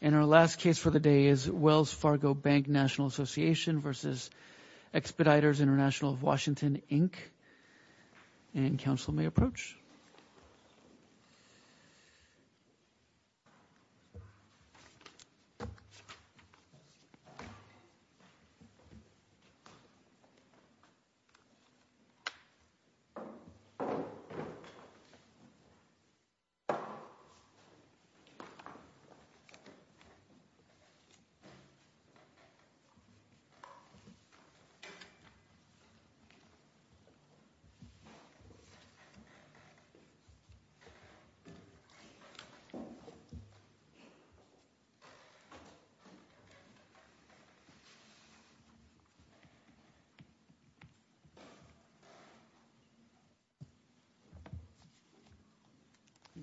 And our last case for the day is Wells Fargo Bank, N.A. v. Expeditors International of Washington, Inc. And counsel may approach.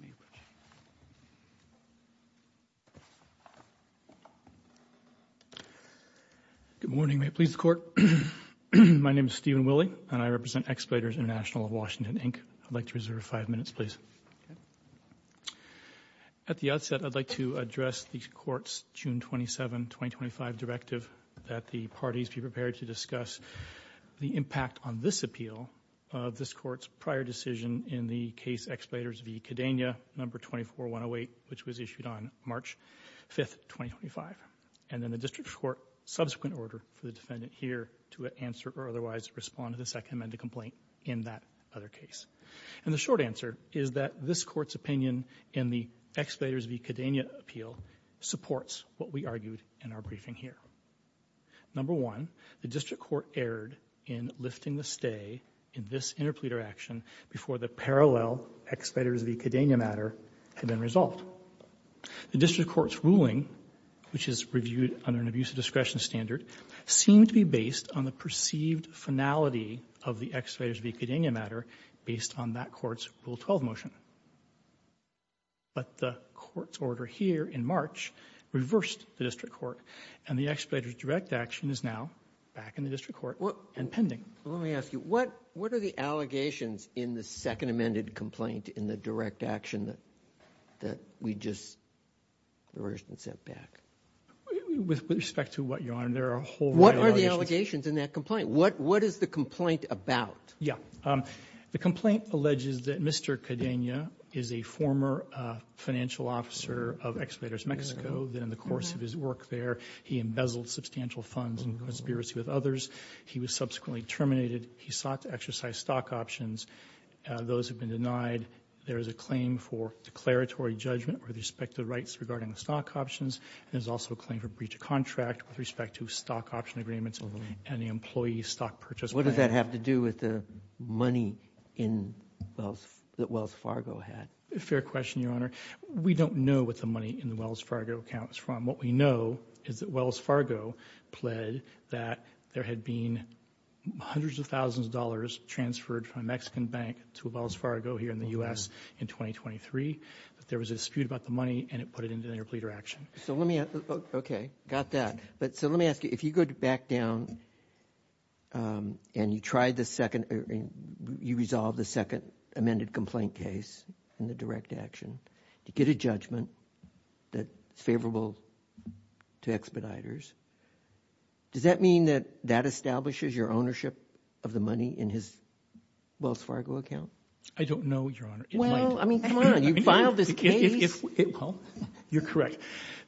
Thank you. You may approach. Good morning. May it please the Court. My name is Stephen Willey, and I represent Expeditors International of Washington, Inc. I'd like to reserve five minutes, please. At the outset, I'd like to address the Court's June 27, 2025, directive that the parties be prepared to discuss the impact on this appeal of this Court's prior decision in the case Expeditors v. Cadena, No. 24-108, which was issued on March 5, 2025, and then the District Court's subsequent order for the defendant here to answer or otherwise respond to the Second Amendment complaint in that other case. And the short answer is that this Court's opinion in the Expeditors v. Cadena appeal supports what we argued in our briefing here. Number one, the District Court erred in lifting the stay in this interpleader action before the parallel Expeditors v. Cadena matter had been resolved. The District Court's ruling, which is reviewed under an abuse of discretion standard, seemed to be based on the perceived finality of the Expeditors v. Cadena matter based on that Court's Rule 12 motion. But the Court's order here in March reversed the District Court, and the Expeditors' direct action is now back in the District Court and pending. Let me ask you, what are the allegations in the Second Amendment complaint in the direct action that we just reversed and sent back? With respect to what, Your Honor, there are a whole lot of allegations. What are the allegations in that complaint? What is the complaint about? Yeah. The complaint alleges that Mr. Cadena is a former financial officer of Expeditors Mexico, that in the course of his work there, he embezzled substantial funds in conspiracy with others. He was subsequently terminated. He sought to exercise stock options. Those have been denied. There is a claim for declaratory judgment with respect to the rights regarding the stock options. There's also a claim for breach of contract with respect to stock option agreements and the employee stock purchase. What does that have to do with the money that Wells Fargo had? A fair question, Your Honor. We don't know what the money in the Wells Fargo account is from. What we know is that Wells Fargo pled that there had been hundreds of thousands of dollars transferred from a Mexican bank to Wells Fargo here in the U.S. in 2023, but there was a dispute about the money, and it put it into interpleader action. Okay. Got that. So let me ask you, if you go back down and you try the second or you resolve the second amended complaint case in the direct action, to get a judgment that's favorable to Expeditors, does that mean that that establishes your ownership of the money in his Wells Fargo account? I don't know, Your Honor. Well, I mean, come on. You filed this case. Well, you're correct.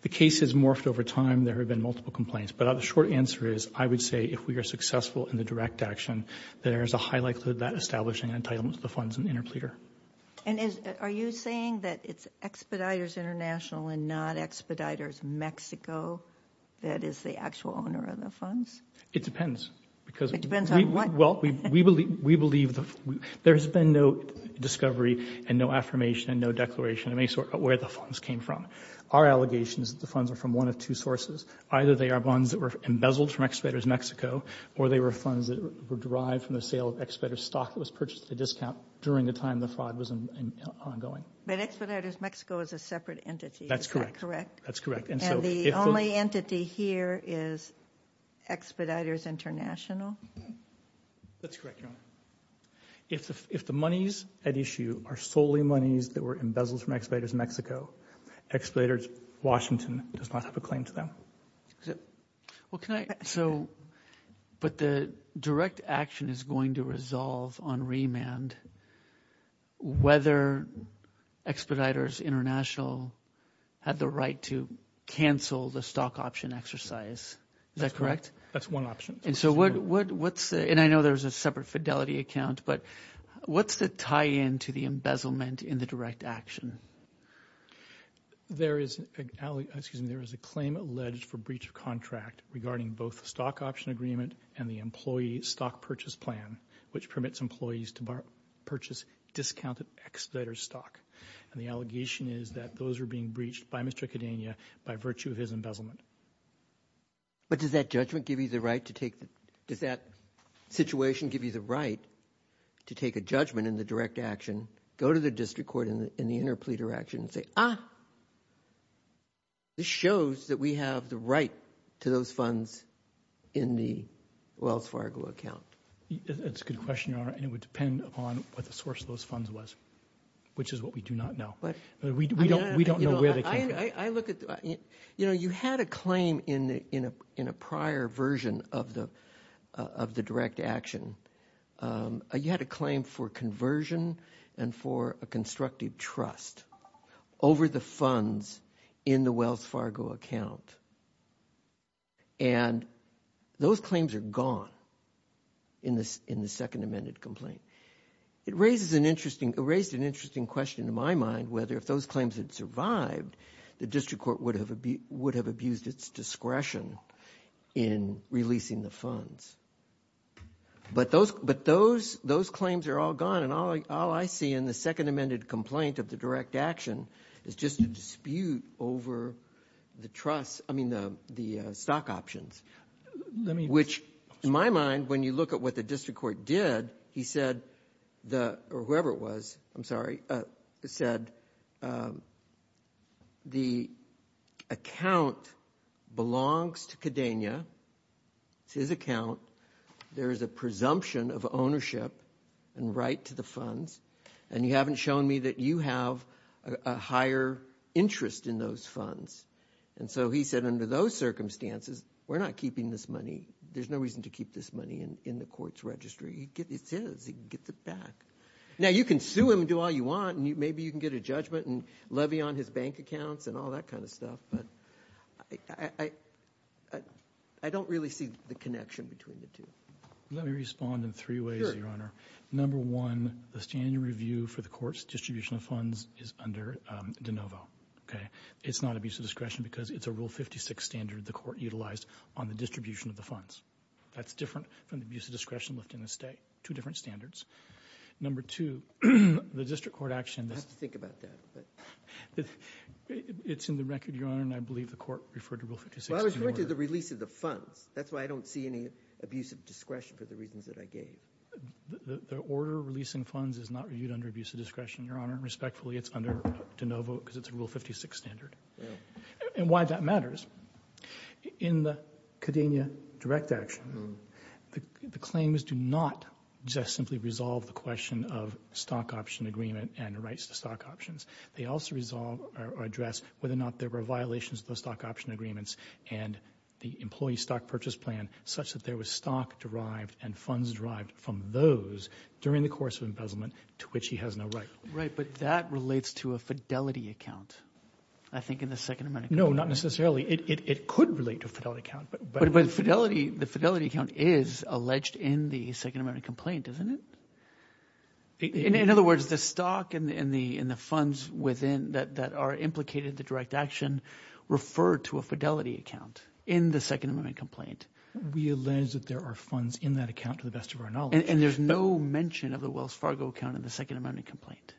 The case has morphed over time. There have been multiple complaints. But the short answer is I would say if we are successful in the direct action, there is a high likelihood that establishing entitlements to the funds in interpleader. And are you saying that it's Expeditors International and not Expeditors Mexico that is the actual owner of the funds? It depends. It depends on what? Well, we believe there has been no discovery and no affirmation and no declaration of any sort of where the funds came from. Our allegation is that the funds are from one of two sources. Either they are funds that were embezzled from Expeditors Mexico or they were funds that were derived from the sale of Expeditors stock that was purchased at a discount during the time the fraud was ongoing. But Expeditors Mexico is a separate entity, is that correct? That's correct. And the only entity here is Expeditors International? That's correct, Your Honor. If the monies at issue are solely monies that were embezzled from Expeditors Mexico, Expeditors Washington does not have a claim to them. But the direct action is going to resolve on remand whether Expeditors International had the right to cancel the stock option exercise. Is that correct? That's one option. And I know there's a separate fidelity account, but what's the tie-in to the embezzlement in the direct action? There is a claim alleged for breach of contract regarding both the stock option agreement and the employee stock purchase plan, which permits employees to purchase discounted Expeditors stock. And the allegation is that those are being breached by Mr. Cadena by virtue of his embezzlement. But does that judgment give you the right to take the – does that situation give you the right to take a judgment in the direct action, go to the district court in the interplea direction and say, ah, this shows that we have the right to those funds in the Wells Fargo account? That's a good question, Your Honor, and it would depend upon what the source of those funds was, which is what we do not know. We don't know where they came from. I look at – you know, you had a claim in a prior version of the direct action. You had a claim for conversion and for a constructive trust over the funds in the Wells Fargo account. And those claims are gone in the second amended complaint. It raises an interesting – it raised an interesting question in my mind whether if those claims had survived, the district court would have abused its discretion in releasing the funds. But those – but those claims are all gone, and all I see in the second amended complaint of the direct action is just a dispute over the trust – I mean, the stock options. Let me – Which, in my mind, when you look at what the district court did, he said the – or whoever it was, I'm sorry – said the account belongs to Cadena. It's his account. There is a presumption of ownership and right to the funds, and you haven't shown me that you have a higher interest in those funds. And so he said under those circumstances, we're not keeping this money. There's no reason to keep this money in the court's registry. It's his. He can get it back. Now, you can sue him and do all you want, and maybe you can get a judgment and levy on his bank accounts and all that kind of stuff, but I don't really see the connection between the two. Let me respond in three ways, Your Honor. Number one, the standard review for the court's distribution of funds is under De Novo. It's not abuse of discretion because it's a Rule 56 standard the court utilized on the distribution of the funds. That's different from the abuse of discretion left in the state. Two different standards. Number two, the district court action – I'll have to think about that. It's in the record, Your Honor, and I believe the court referred to Rule 56. Well, I was referring to the release of the funds. That's why I don't see any abuse of discretion for the reasons that I gave. The order releasing funds is not reviewed under abuse of discretion, Your Honor. Respectfully, it's under De Novo because it's a Rule 56 standard. And why that matters. In the Cadenia direct action, the claims do not just simply resolve the question of stock option agreement and rights to stock options. They also resolve or address whether or not there were violations of those stock option agreements and the employee stock purchase plan such that there was stock derived and funds derived from those during the course of embezzlement to which he has no right. Right, but that relates to a fidelity account. I think in the Second Amendment complaint. No, not necessarily. It could relate to a fidelity account. But the fidelity account is alleged in the Second Amendment complaint, isn't it? In other words, the stock and the funds that are implicated in the direct action refer to a fidelity account in the Second Amendment complaint. We allege that there are funds in that account to the best of our knowledge. And there's no mention of the Wells Fargo account in the Second Amendment complaint.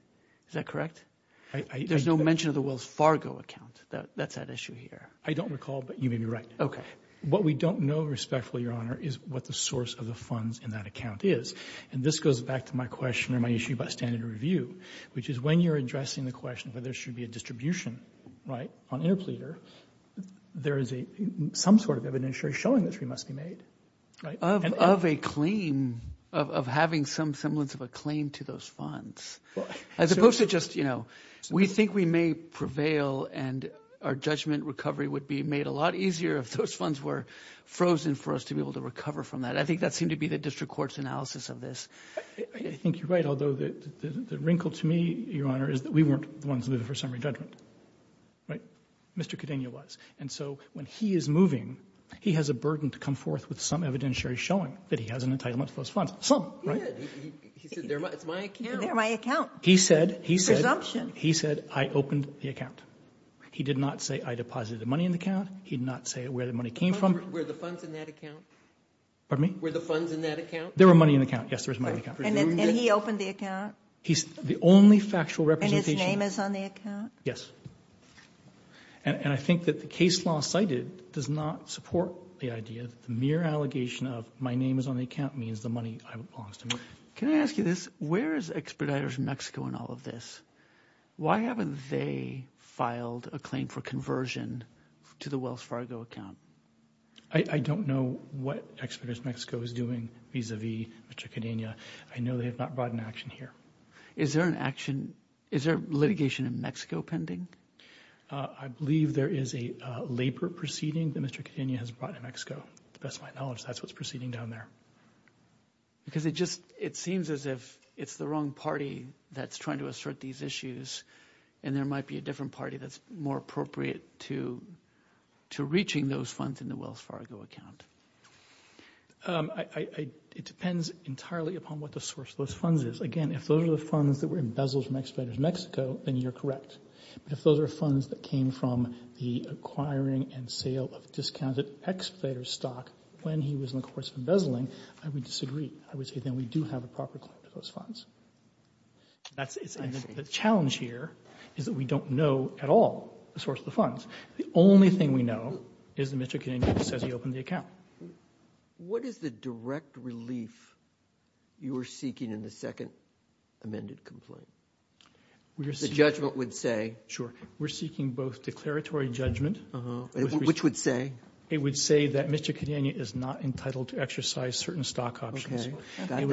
Is that correct? There's no mention of the Wells Fargo account. That's at issue here. I don't recall, but you may be right. What we don't know respectfully, Your Honor, is what the source of the funds in that account is. And this goes back to my question or my issue about standard review, which is when you're addressing the question whether there should be a distribution on interpleader, there is some sort of evidentiary showing that it must be made. Of a claim, of having some semblance of a claim to those funds. As opposed to just, you know, we think we may prevail and our judgment recovery would be made a lot easier if those funds were frozen for us to be able to recover from that. I think that seemed to be the district court's analysis of this. I think you're right, although the wrinkle to me, Your Honor, is that we weren't the ones who did the first summary judgment. Right? Mr. Cadenia was. And so when he is moving, he has a burden to come forth with some evidentiary showing that he has an entitlement to those funds. Some, right? It's my account. They're my account. Presumption. He said I opened the account. He did not say I deposited the money in the account. He did not say where the money came from. Were the funds in that account? Pardon me? Were the funds in that account? There were money in the account. Yes, there was money in the account. And he opened the account? The only factual representation. And his name is on the account? Yes. And I think that the case law cited does not support the idea that the mere allegation of my name is on the account means the money belongs to me. Can I ask you this? Where is Expeditors Mexico in all of this? Why haven't they filed a claim for conversion to the Wells Fargo account? I don't know what Expeditors Mexico is doing vis-à-vis Mr. Cadenia. I know they have not brought an action here. Is there litigation in Mexico pending? I believe there is a labor proceeding that Mr. Cadenia has brought in Mexico. To the best of my knowledge, that's what's proceeding down there. Because it seems as if it's the wrong party that's trying to assert these issues and there might be a different party that's more appropriate to reaching those funds in the Wells Fargo account. It depends entirely upon what the source of those funds is. Again, if those are the funds that were embezzled from Expeditors Mexico, then you're correct. But if those are funds that came from the acquiring and sale of discounted Expeditors stock when he was in the course of embezzling, I would disagree. I would say then we do have a proper claim to those funds. The challenge here is that we don't know at all the source of the funds. The only thing we know is that Mr. Cadenia says he opened the account. What is the direct relief you are seeking in the second amended complaint? The judgment would say? Sure. We're seeking both declaratory judgment. Which would say? It would say that Mr. Cadenia is not entitled to exercise certain stock options. Got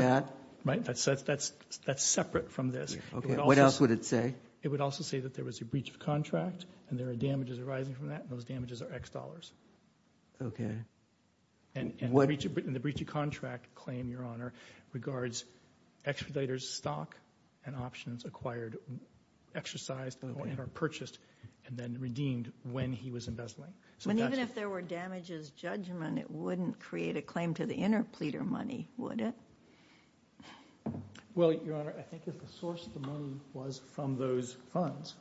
that. That's separate from this. What else would it say? It would also say that there was a breach of contract and there are damages arising from that, and those damages are X dollars. Okay. And the breach of contract claim, Your Honor, Expeditors stock and options acquired, exercised and purchased and then redeemed when he was embezzling. Even if there were damages judgment, it wouldn't create a claim to the interpleader money, would it? Well, Your Honor, I think if the source of the money was from those funds,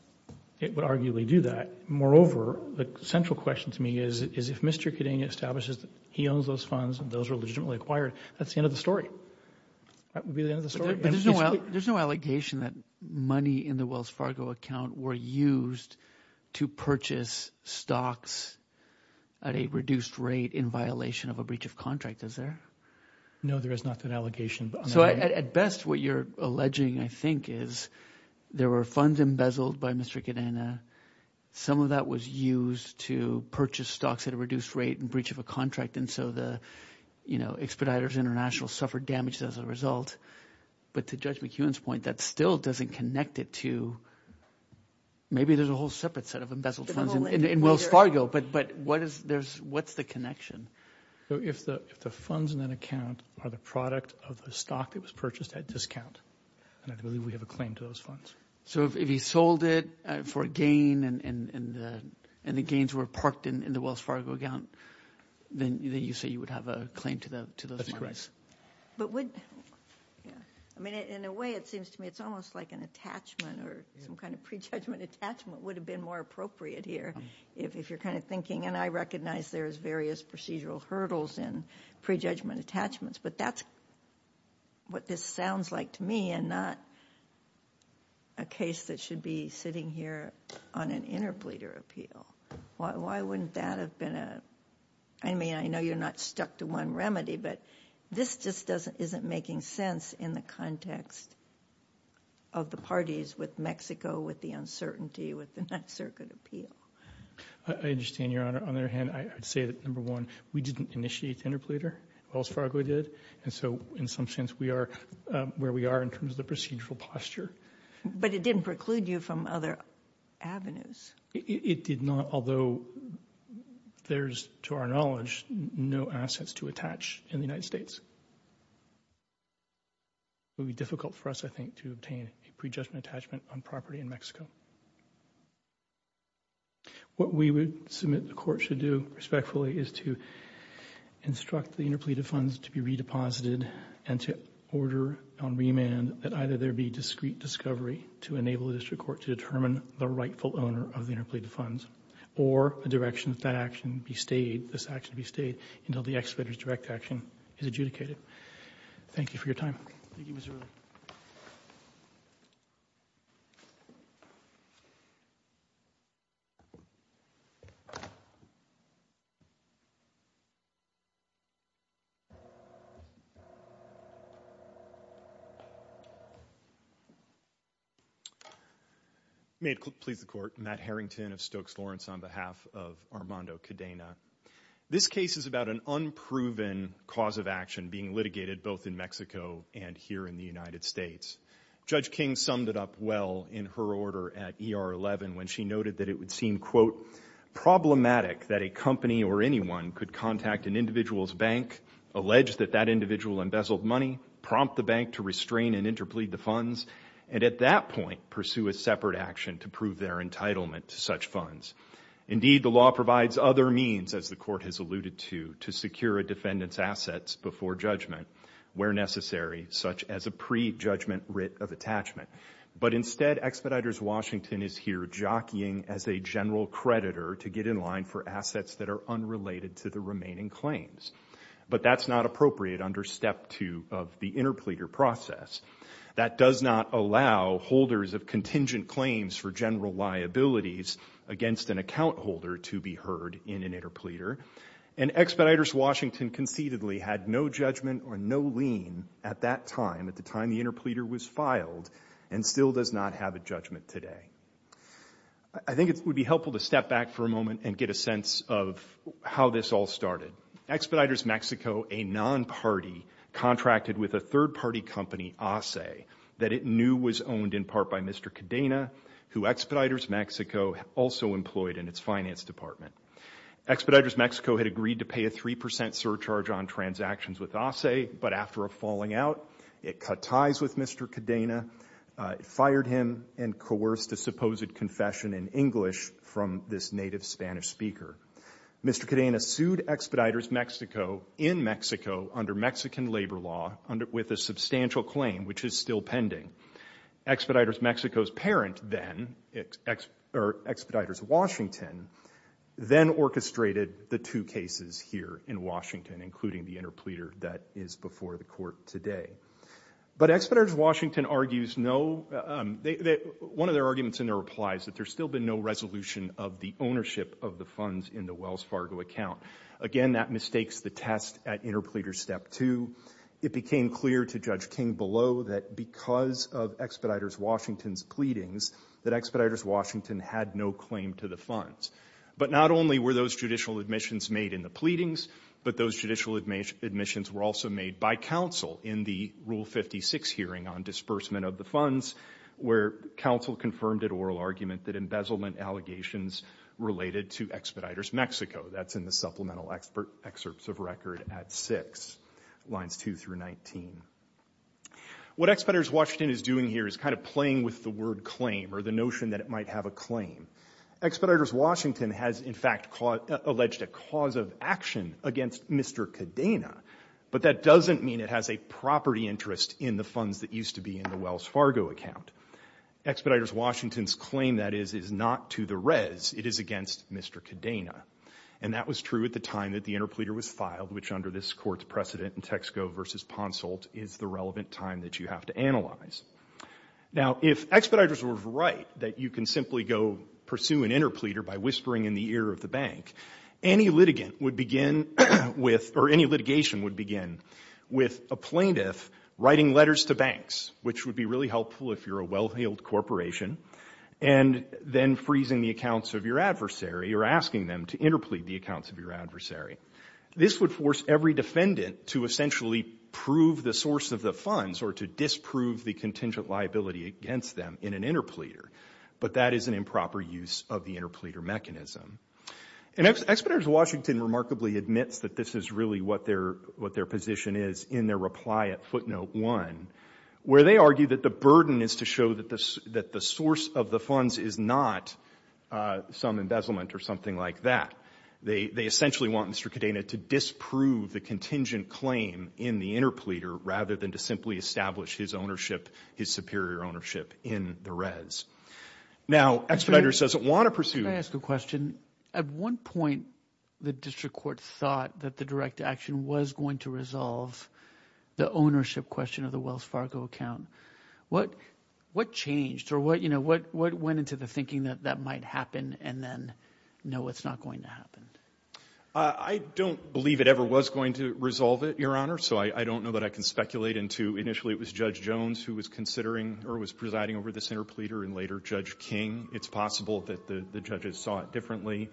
it would arguably do that. Moreover, the central question to me is if Mr. Cadenia establishes that he owns those funds and those are legitimately acquired, that's the end of the story. That would be the end of the story. But there's no allegation that money in the Wells Fargo account were used to purchase stocks at a reduced rate in violation of a breach of contract, is there? No, there is not an allegation. So at best what you're alleging, I think, is there were funds embezzled by Mr. Cadenia. Some of that was used to purchase stocks at a reduced rate in breach of a contract, and so the Expeditors International suffered damage as a result. But to Judge McEwen's point, that still doesn't connect it to – maybe there's a whole separate set of embezzled funds in Wells Fargo, but what's the connection? If the funds in that account are the product of the stock that was purchased at discount, then I believe we have a claim to those funds. So if he sold it for a gain and the gains were parked in the Wells Fargo account, then you say you would have a claim to those funds? In a way, it seems to me it's almost like an attachment or some kind of prejudgment attachment would have been more appropriate here, if you're kind of thinking – and I recognize there's various procedural hurdles in prejudgment attachments, but that's what this sounds like to me and not a case that should be sitting here on an interpleader appeal. Why wouldn't that have been a – I mean, I know you're not stuck to one remedy, but this just isn't making sense in the context of the parties with Mexico, with the uncertainty, with the Ninth Circuit appeal. I understand, Your Honor. On the other hand, I'd say that, number one, we didn't initiate the interpleader, Wells Fargo did, and so in some sense we are where we are in terms of the procedural posture. But it didn't preclude you from other avenues. It did not, although there's, to our knowledge, no assets to attach in the United States. It would be difficult for us, I think, to obtain a prejudgment attachment on property in Mexico. What we would submit the Court should do respectfully is to instruct the interpleader funds to be redeposited and to order on remand that either there be discrete discovery to enable the district court to determine the rightful owner of the interpleader funds or a direction that that action be stayed, this action be stayed, until the excavator's direct action is adjudicated. Thank you for your time. Thank you, Mr. Wheeler. May it please the Court. Matt Harrington of Stokes Lawrence on behalf of Armando Cadena. This case is about an unproven cause of action being litigated both in Mexico and here in the United States. Judge King summed it up well in her order at ER 11 when she noted that it would seem, quote, problematic that a company or anyone could contact an individual's bank, allege that that individual embezzled money, prompt the bank to restrain and interplead the funds, and at that point pursue a separate action to prove their entitlement to such funds. Indeed, the law provides other means, as the Court has alluded to, to secure a defendant's assets before judgment where necessary, such as a prejudgment writ of attachment. But instead, Expeditors Washington is here jockeying as a general creditor to get in line for assets that are unrelated to the remaining claims. But that's not appropriate under Step 2 of the interpleader process. That does not allow holders of contingent claims for general liabilities against an account holder to be heard in an interpleader. And Expeditors Washington concededly had no judgment or no lien at that time, at the time the interpleader was filed, and still does not have a judgment today. I think it would be helpful to step back for a moment and get a sense of how this all started. Expeditors Mexico, a non-party, contracted with a third-party company, ASE, that it knew was owned in part by Mr. Cadena, who Expeditors Mexico also employed in its finance department. Expeditors Mexico had agreed to pay a 3 percent surcharge on transactions with ASE, but after a falling out, it cut ties with Mr. Cadena, fired him, and coerced a supposed confession in English from this native Spanish speaker. Mr. Cadena sued Expeditors Mexico in Mexico under Mexican labor law with a substantial claim, which is still pending. Expeditors Mexico's parent then, Expeditors Washington, then orchestrated the two cases here in Washington, including the interpleader that is before the court today. But Expeditors Washington argues no, one of their arguments in their replies, that there's still been no resolution of the ownership of the funds in the Wells Fargo account. Again, that mistakes the test at interpleader step two. It became clear to Judge King below that because of Expeditors Washington's pleadings that Expeditors Washington had no claim to the funds. But not only were those judicial admissions made in the pleadings, but those judicial admissions were also made by counsel in the Rule 56 hearing on disbursement of the funds where counsel confirmed an oral argument that embezzlement allegations related to Expeditors Mexico. That's in the supplemental excerpts of record at six, lines two through 19. What Expeditors Washington is doing here is kind of playing with the word claim or the notion that it might have a claim. Expeditors Washington has, in fact, alleged a cause of action against Mr. Cadena, but that doesn't mean it has a property interest in the funds that used to be in the Wells Fargo account. Expeditors Washington's claim, that is, is not to the res. It is against Mr. Cadena. And that was true at the time that the interpleader was filed, which under this court's precedent in Texaco v. Ponsolt is the relevant time that you have to analyze. Now, if Expeditors were right that you can simply go pursue an interpleader by whispering in the ear of the bank, any litigation would begin with a plaintiff writing letters to banks, which would be really helpful if you're a well-heeled corporation, and then freezing the accounts of your adversary or asking them to interplead the accounts of your adversary. This would force every defendant to essentially prove the source of the funds or to disprove the contingent liability against them in an interpleader, but that is an improper use of the interpleader mechanism. And Expeditors Washington remarkably admits that this is really what their position is in their reply at footnote 1, where they argue that the burden is to show that the source of the funds is not some embezzlement or something like that. They essentially want Mr. Cadena to disprove the contingent claim in the interpleader rather than to simply establish his ownership, his superior ownership in the res. Now, Expeditors doesn't want to pursue the interpleader. At one point, the district court thought that the direct action was going to resolve the ownership question of the Wells Fargo account. What changed or what went into the thinking that that might happen and then, no, it's not going to happen? I don't believe it ever was going to resolve it, Your Honor, so I don't know that I can speculate into initially it was Judge Jones who was considering or was presiding over this interpleader and later Judge King. It's possible that the judges saw it differently.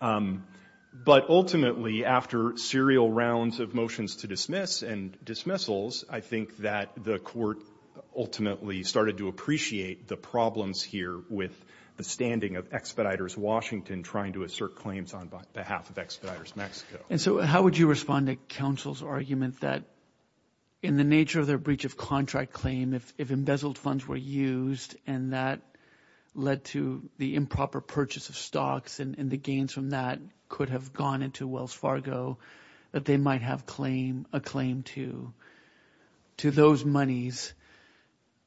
But ultimately, after serial rounds of motions to dismiss and dismissals, I think that the court ultimately started to appreciate the problems here with the standing of Expeditors Washington trying to assert claims on behalf of Expeditors Mexico. And so how would you respond to counsel's argument that, in the nature of their breach of contract claim, if embezzled funds were used and that led to the improper purchase of stocks and the gains from that could have gone into Wells Fargo, that they might have a claim to those monies?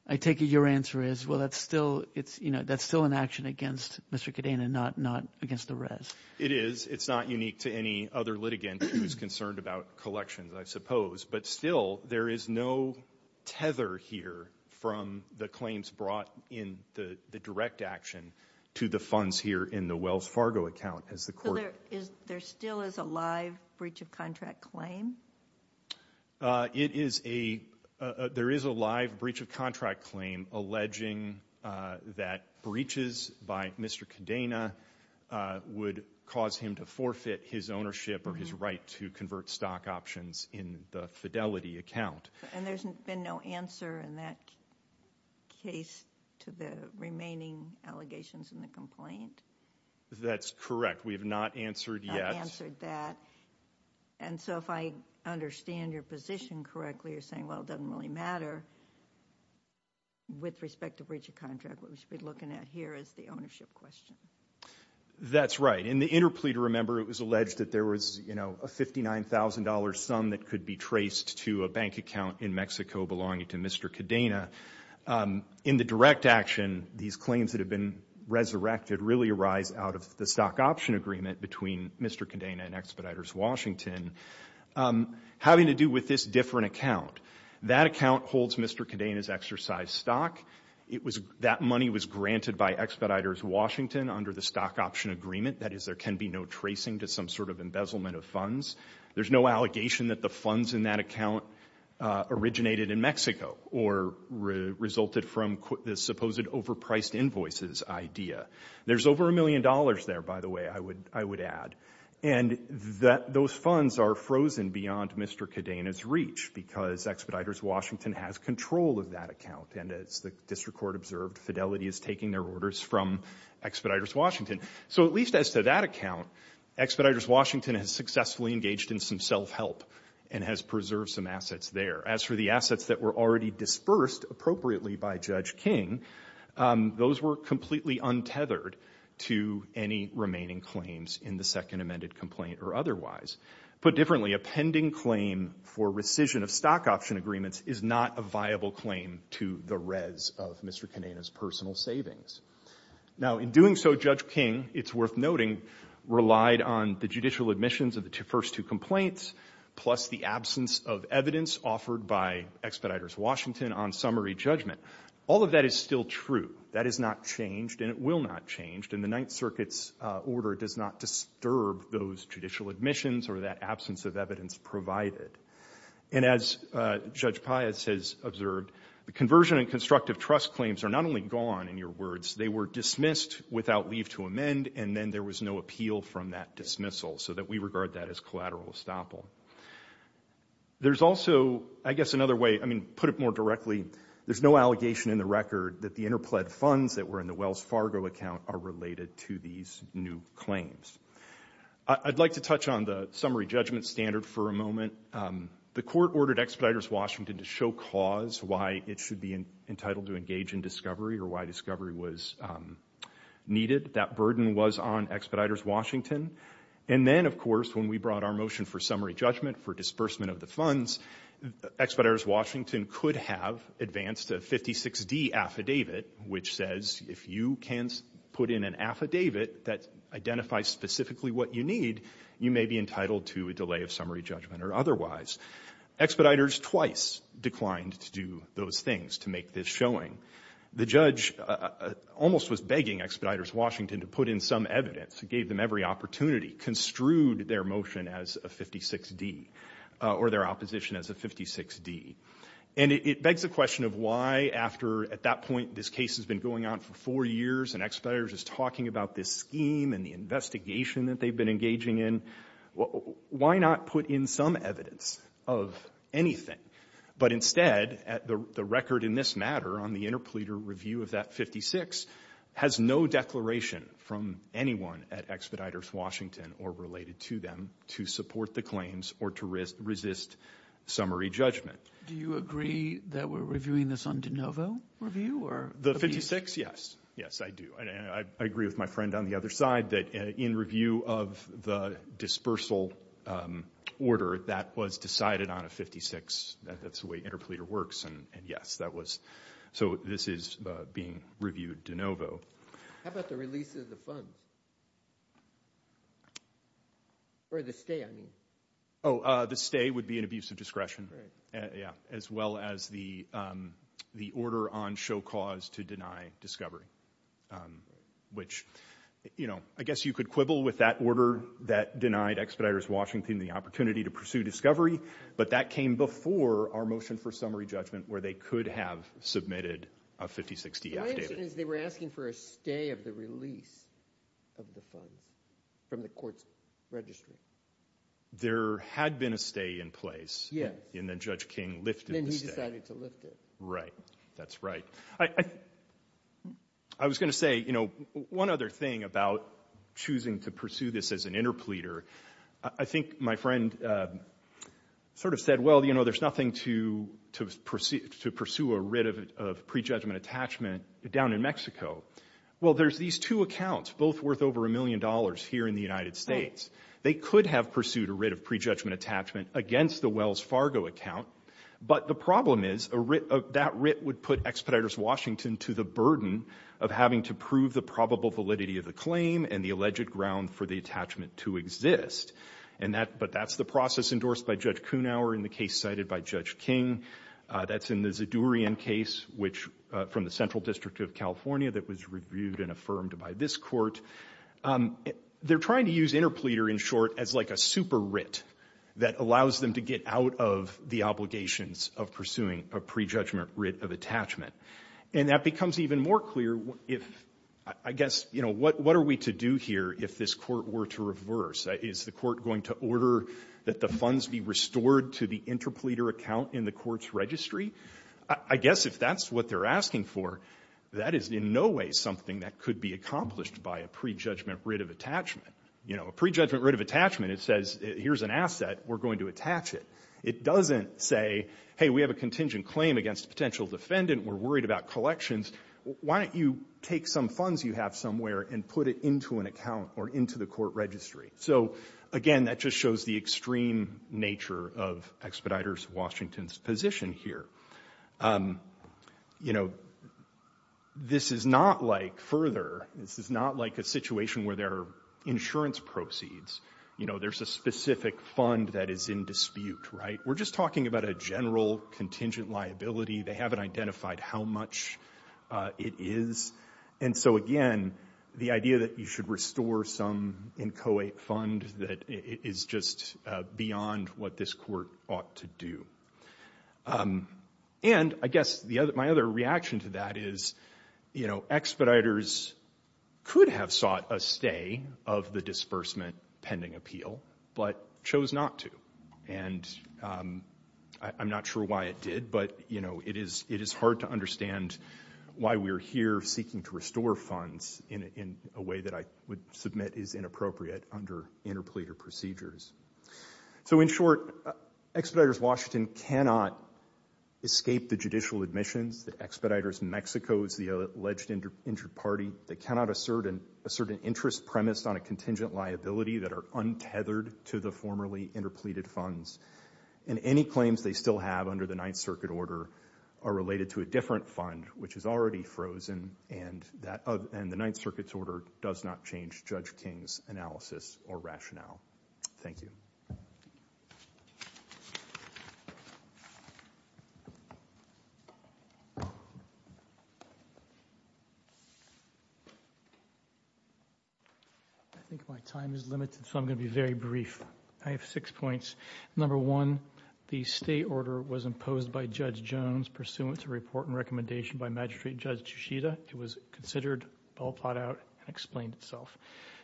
I take it your answer is, well, that's still an action against Mr. Cadena, not against the res. It is. It's not unique to any other litigant who's concerned about collections, I suppose. But still, there is no tether here from the claims brought in the direct action to the funds here in the Wells Fargo account. So there still is a live breach of contract claim? There is a live breach of contract claim alleging that breaches by Mr. Cadena would cause him to forfeit his ownership or his right to convert stock options in the Fidelity account. And there's been no answer in that case to the remaining allegations in the complaint? That's correct. We have not answered yet. Not answered that. And so if I understand your position correctly, you're saying, well, it doesn't really matter. With respect to breach of contract, what we should be looking at here is the ownership question. That's right. In the interplea to remember, it was alleged that there was, you know, a $59,000 sum that could be traced to a bank account in Mexico belonging to Mr. Cadena. In the direct action, these claims that have been resurrected really arise out of the stock option agreement between Mr. Cadena and Expeditors Washington having to do with this different account. That account holds Mr. Cadena's exercised stock. That money was granted by Expeditors Washington under the stock option agreement. That is, there can be no tracing to some sort of embezzlement of funds. There's no allegation that the funds in that account originated in Mexico or resulted from the supposed overpriced invoices idea. There's over $1 million there, by the way, I would add. And those funds are frozen beyond Mr. Cadena's reach because Expeditors Washington has control of that account. And as the district court observed, Fidelity is taking their orders from Expeditors Washington. So at least as to that account, Expeditors Washington has successfully engaged in some self-help and has preserved some assets there. As for the assets that were already dispersed appropriately by Judge King, those were completely untethered to any remaining claims in the second amended complaint or otherwise. Put differently, a pending claim for rescission of stock option agreements is not a viable claim to the res of Mr. Cadena's personal savings. Now, in doing so, Judge King, it's worth noting, relied on the judicial admissions of the first two complaints plus the absence of evidence offered by Expeditors Washington on summary judgment. All of that is still true. That has not changed and it will not change. And the Ninth Circuit's order does not disturb those judicial admissions or that absence of evidence provided. And as Judge Pius has observed, the conversion and constructive trust claims are not only gone, in your words, they were dismissed without leave to amend and then there was no appeal from that dismissal so that we regard that as collateral estoppel. There's also, I guess, another way, I mean, put it more directly, there's no allegation in the record that the interpled funds that were in the Wells Fargo account are related to these new claims. I'd like to touch on the summary judgment standard for a moment. The court ordered Expeditors Washington to show cause why it should be entitled to engage in discovery or why discovery was needed. That burden was on Expeditors Washington. And then, of course, when we brought our motion for summary judgment for disbursement of the funds, Expeditors Washington could have advanced a 56D affidavit which says if you can put in an affidavit that identifies specifically what you need, you may be entitled to a delay of summary judgment or otherwise. Expeditors twice declined to do those things, to make this showing. The judge almost was begging Expeditors Washington to put in some evidence. It gave them every opportunity, construed their motion as a 56D or their opposition as a 56D. And it begs the question of why after, at that point, this case has been going on for four years and Expeditors is talking about this scheme and the investigation that they've been engaging in, why not put in some evidence of anything? But instead, the record in this matter on the interpleader review of that 56 has no declaration from anyone at Expeditors Washington or related to them to support the claims or to resist summary judgment. Do you agree that we're reviewing this on de novo review? The 56, yes. Yes, I do. I agree with my friend on the other side that in review of the dispersal order, that was decided on a 56. That's the way interpleader works. And yes, that was... So this is being reviewed de novo. How about the release of the funds? Or the stay, I mean. Oh, the stay would be an abuse of discretion. Right. Yeah, as well as the order on show cause to deny discovery. Which, you know, I guess you could quibble with that order that denied Expeditors Washington the opportunity to pursue discovery, but that came before our motion for summary judgment where they could have submitted a 5060-F, David. My understanding is they were asking for a stay of the release of the funds from the court's registry. There had been a stay in place. Yes. And then Judge King lifted the stay. And then he decided to lift it. Right. That's right. I was going to say, you know, one other thing about choosing to pursue this as an interpleader, I think my friend sort of said, well, you know, there's nothing to pursue a writ of prejudgment attachment down in Mexico. Well, there's these two accounts, both worth over a million dollars here in the United States. They could have pursued a writ of prejudgment attachment against the Wells Fargo account, but the problem is, that writ would put Expeditors Washington to the burden of having to prove the probable validity of the claim and the alleged ground for the attachment to exist. But that's the process endorsed by Judge Kunauer in the case cited by Judge King. That's in the Zadorian case, which from the Central District of California that was reviewed and affirmed by this court. They're trying to use interpleader in short as like a super writ that allows them to get out of the obligations of pursuing a prejudgment writ of attachment. And that becomes even more clear if, I guess, you know, what are we to do here if this court were to reverse? Is the court going to order that the funds be restored to the interpleader account in the court's registry? I guess if that's what they're asking for, that is in no way something that could be accomplished by a prejudgment writ of attachment. You know, a prejudgment writ of attachment, it says, here's an asset. We're going to attach it. It doesn't say, hey, we have a contingent claim against a potential defendant. We're worried about collections. Why don't you take some funds you have somewhere and put it into an account or into the court registry? So, again, that just shows the extreme nature of Expeditors Washington's position here. You know, this is not like further. This is not like a situation where there are insurance proceeds. You know, there's a specific fund that is in dispute, right? We're just talking about a general contingent liability. They haven't identified how much it is. And so, again, the idea that you should restore some inchoate fund that is just beyond what this court ought to do. And I guess my other reaction to that is, you know, I sought a stay of the disbursement pending appeal, but chose not to. And I'm not sure why it did, but, you know, it is hard to understand why we're here seeking to restore funds in a way that I would submit is inappropriate under interpleader procedures. So, in short, Expeditors Washington cannot escape the judicial admissions that Expeditors Mexico is the alleged injured party. They cannot assert an interest premised on a contingent liability that are untethered to the formerly interpleaded funds. And any claims they still have under the Ninth Circuit order are related to a different fund, which is already frozen, and the Ninth Circuit's order does not change Judge King's analysis or rationale. Thank you. I think my time is limited, so I'm going to be very brief. I have six points. Number one, the stay order was imposed by Judge Jones pursuant to report and recommendation by Magistrate Judge Chichita. It was considered, all thought out, and explained itself.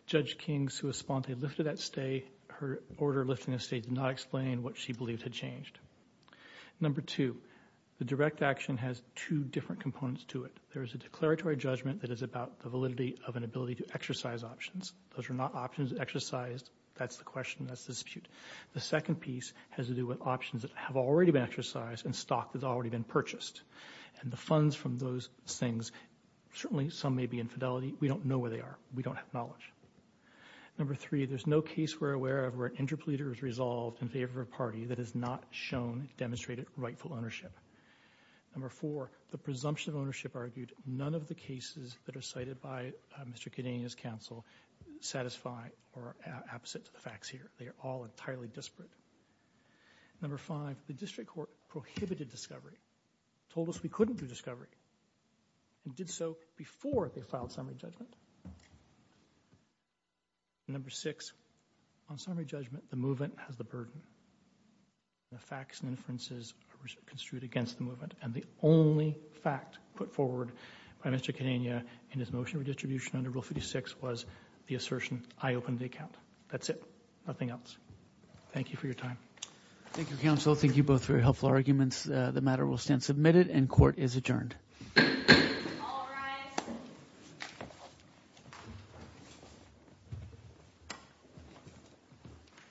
Judge King's sua sponte lifted that stay. Her order lifting the stay did not explain what she believed had changed. Number two, the direct action has two different components to it. First, there is a declaratory judgment that is about the validity of an ability to exercise options. Those are not options exercised. That's the question, that's the dispute. The second piece has to do with options that have already been exercised and stock that's already been purchased. And the funds from those things, certainly some may be in fidelity. We don't know where they are. We don't have knowledge. Number three, there's no case we're aware of where an interpleader is resolved in favor of a party that has not shown, demonstrated rightful ownership. Number four, the presumption of ownership argued none of the cases that are cited by Mr. Kidania's counsel satisfy or are opposite to the facts here. They are all entirely disparate. Number five, the district court prohibited discovery, told us we couldn't do discovery, and did so before they filed summary judgment. Number six, on summary judgment, the movement has the burden. The facts and inferences are construed against the movement. And the only fact put forward by Mr. Kidania in his motion of redistribution under Rule 56 was the assertion, I opened the account. That's it, nothing else. Thank you for your time. Thank you, counsel. Thank you both for your helpful arguments. The matter will stand submitted and court is adjourned. All rise.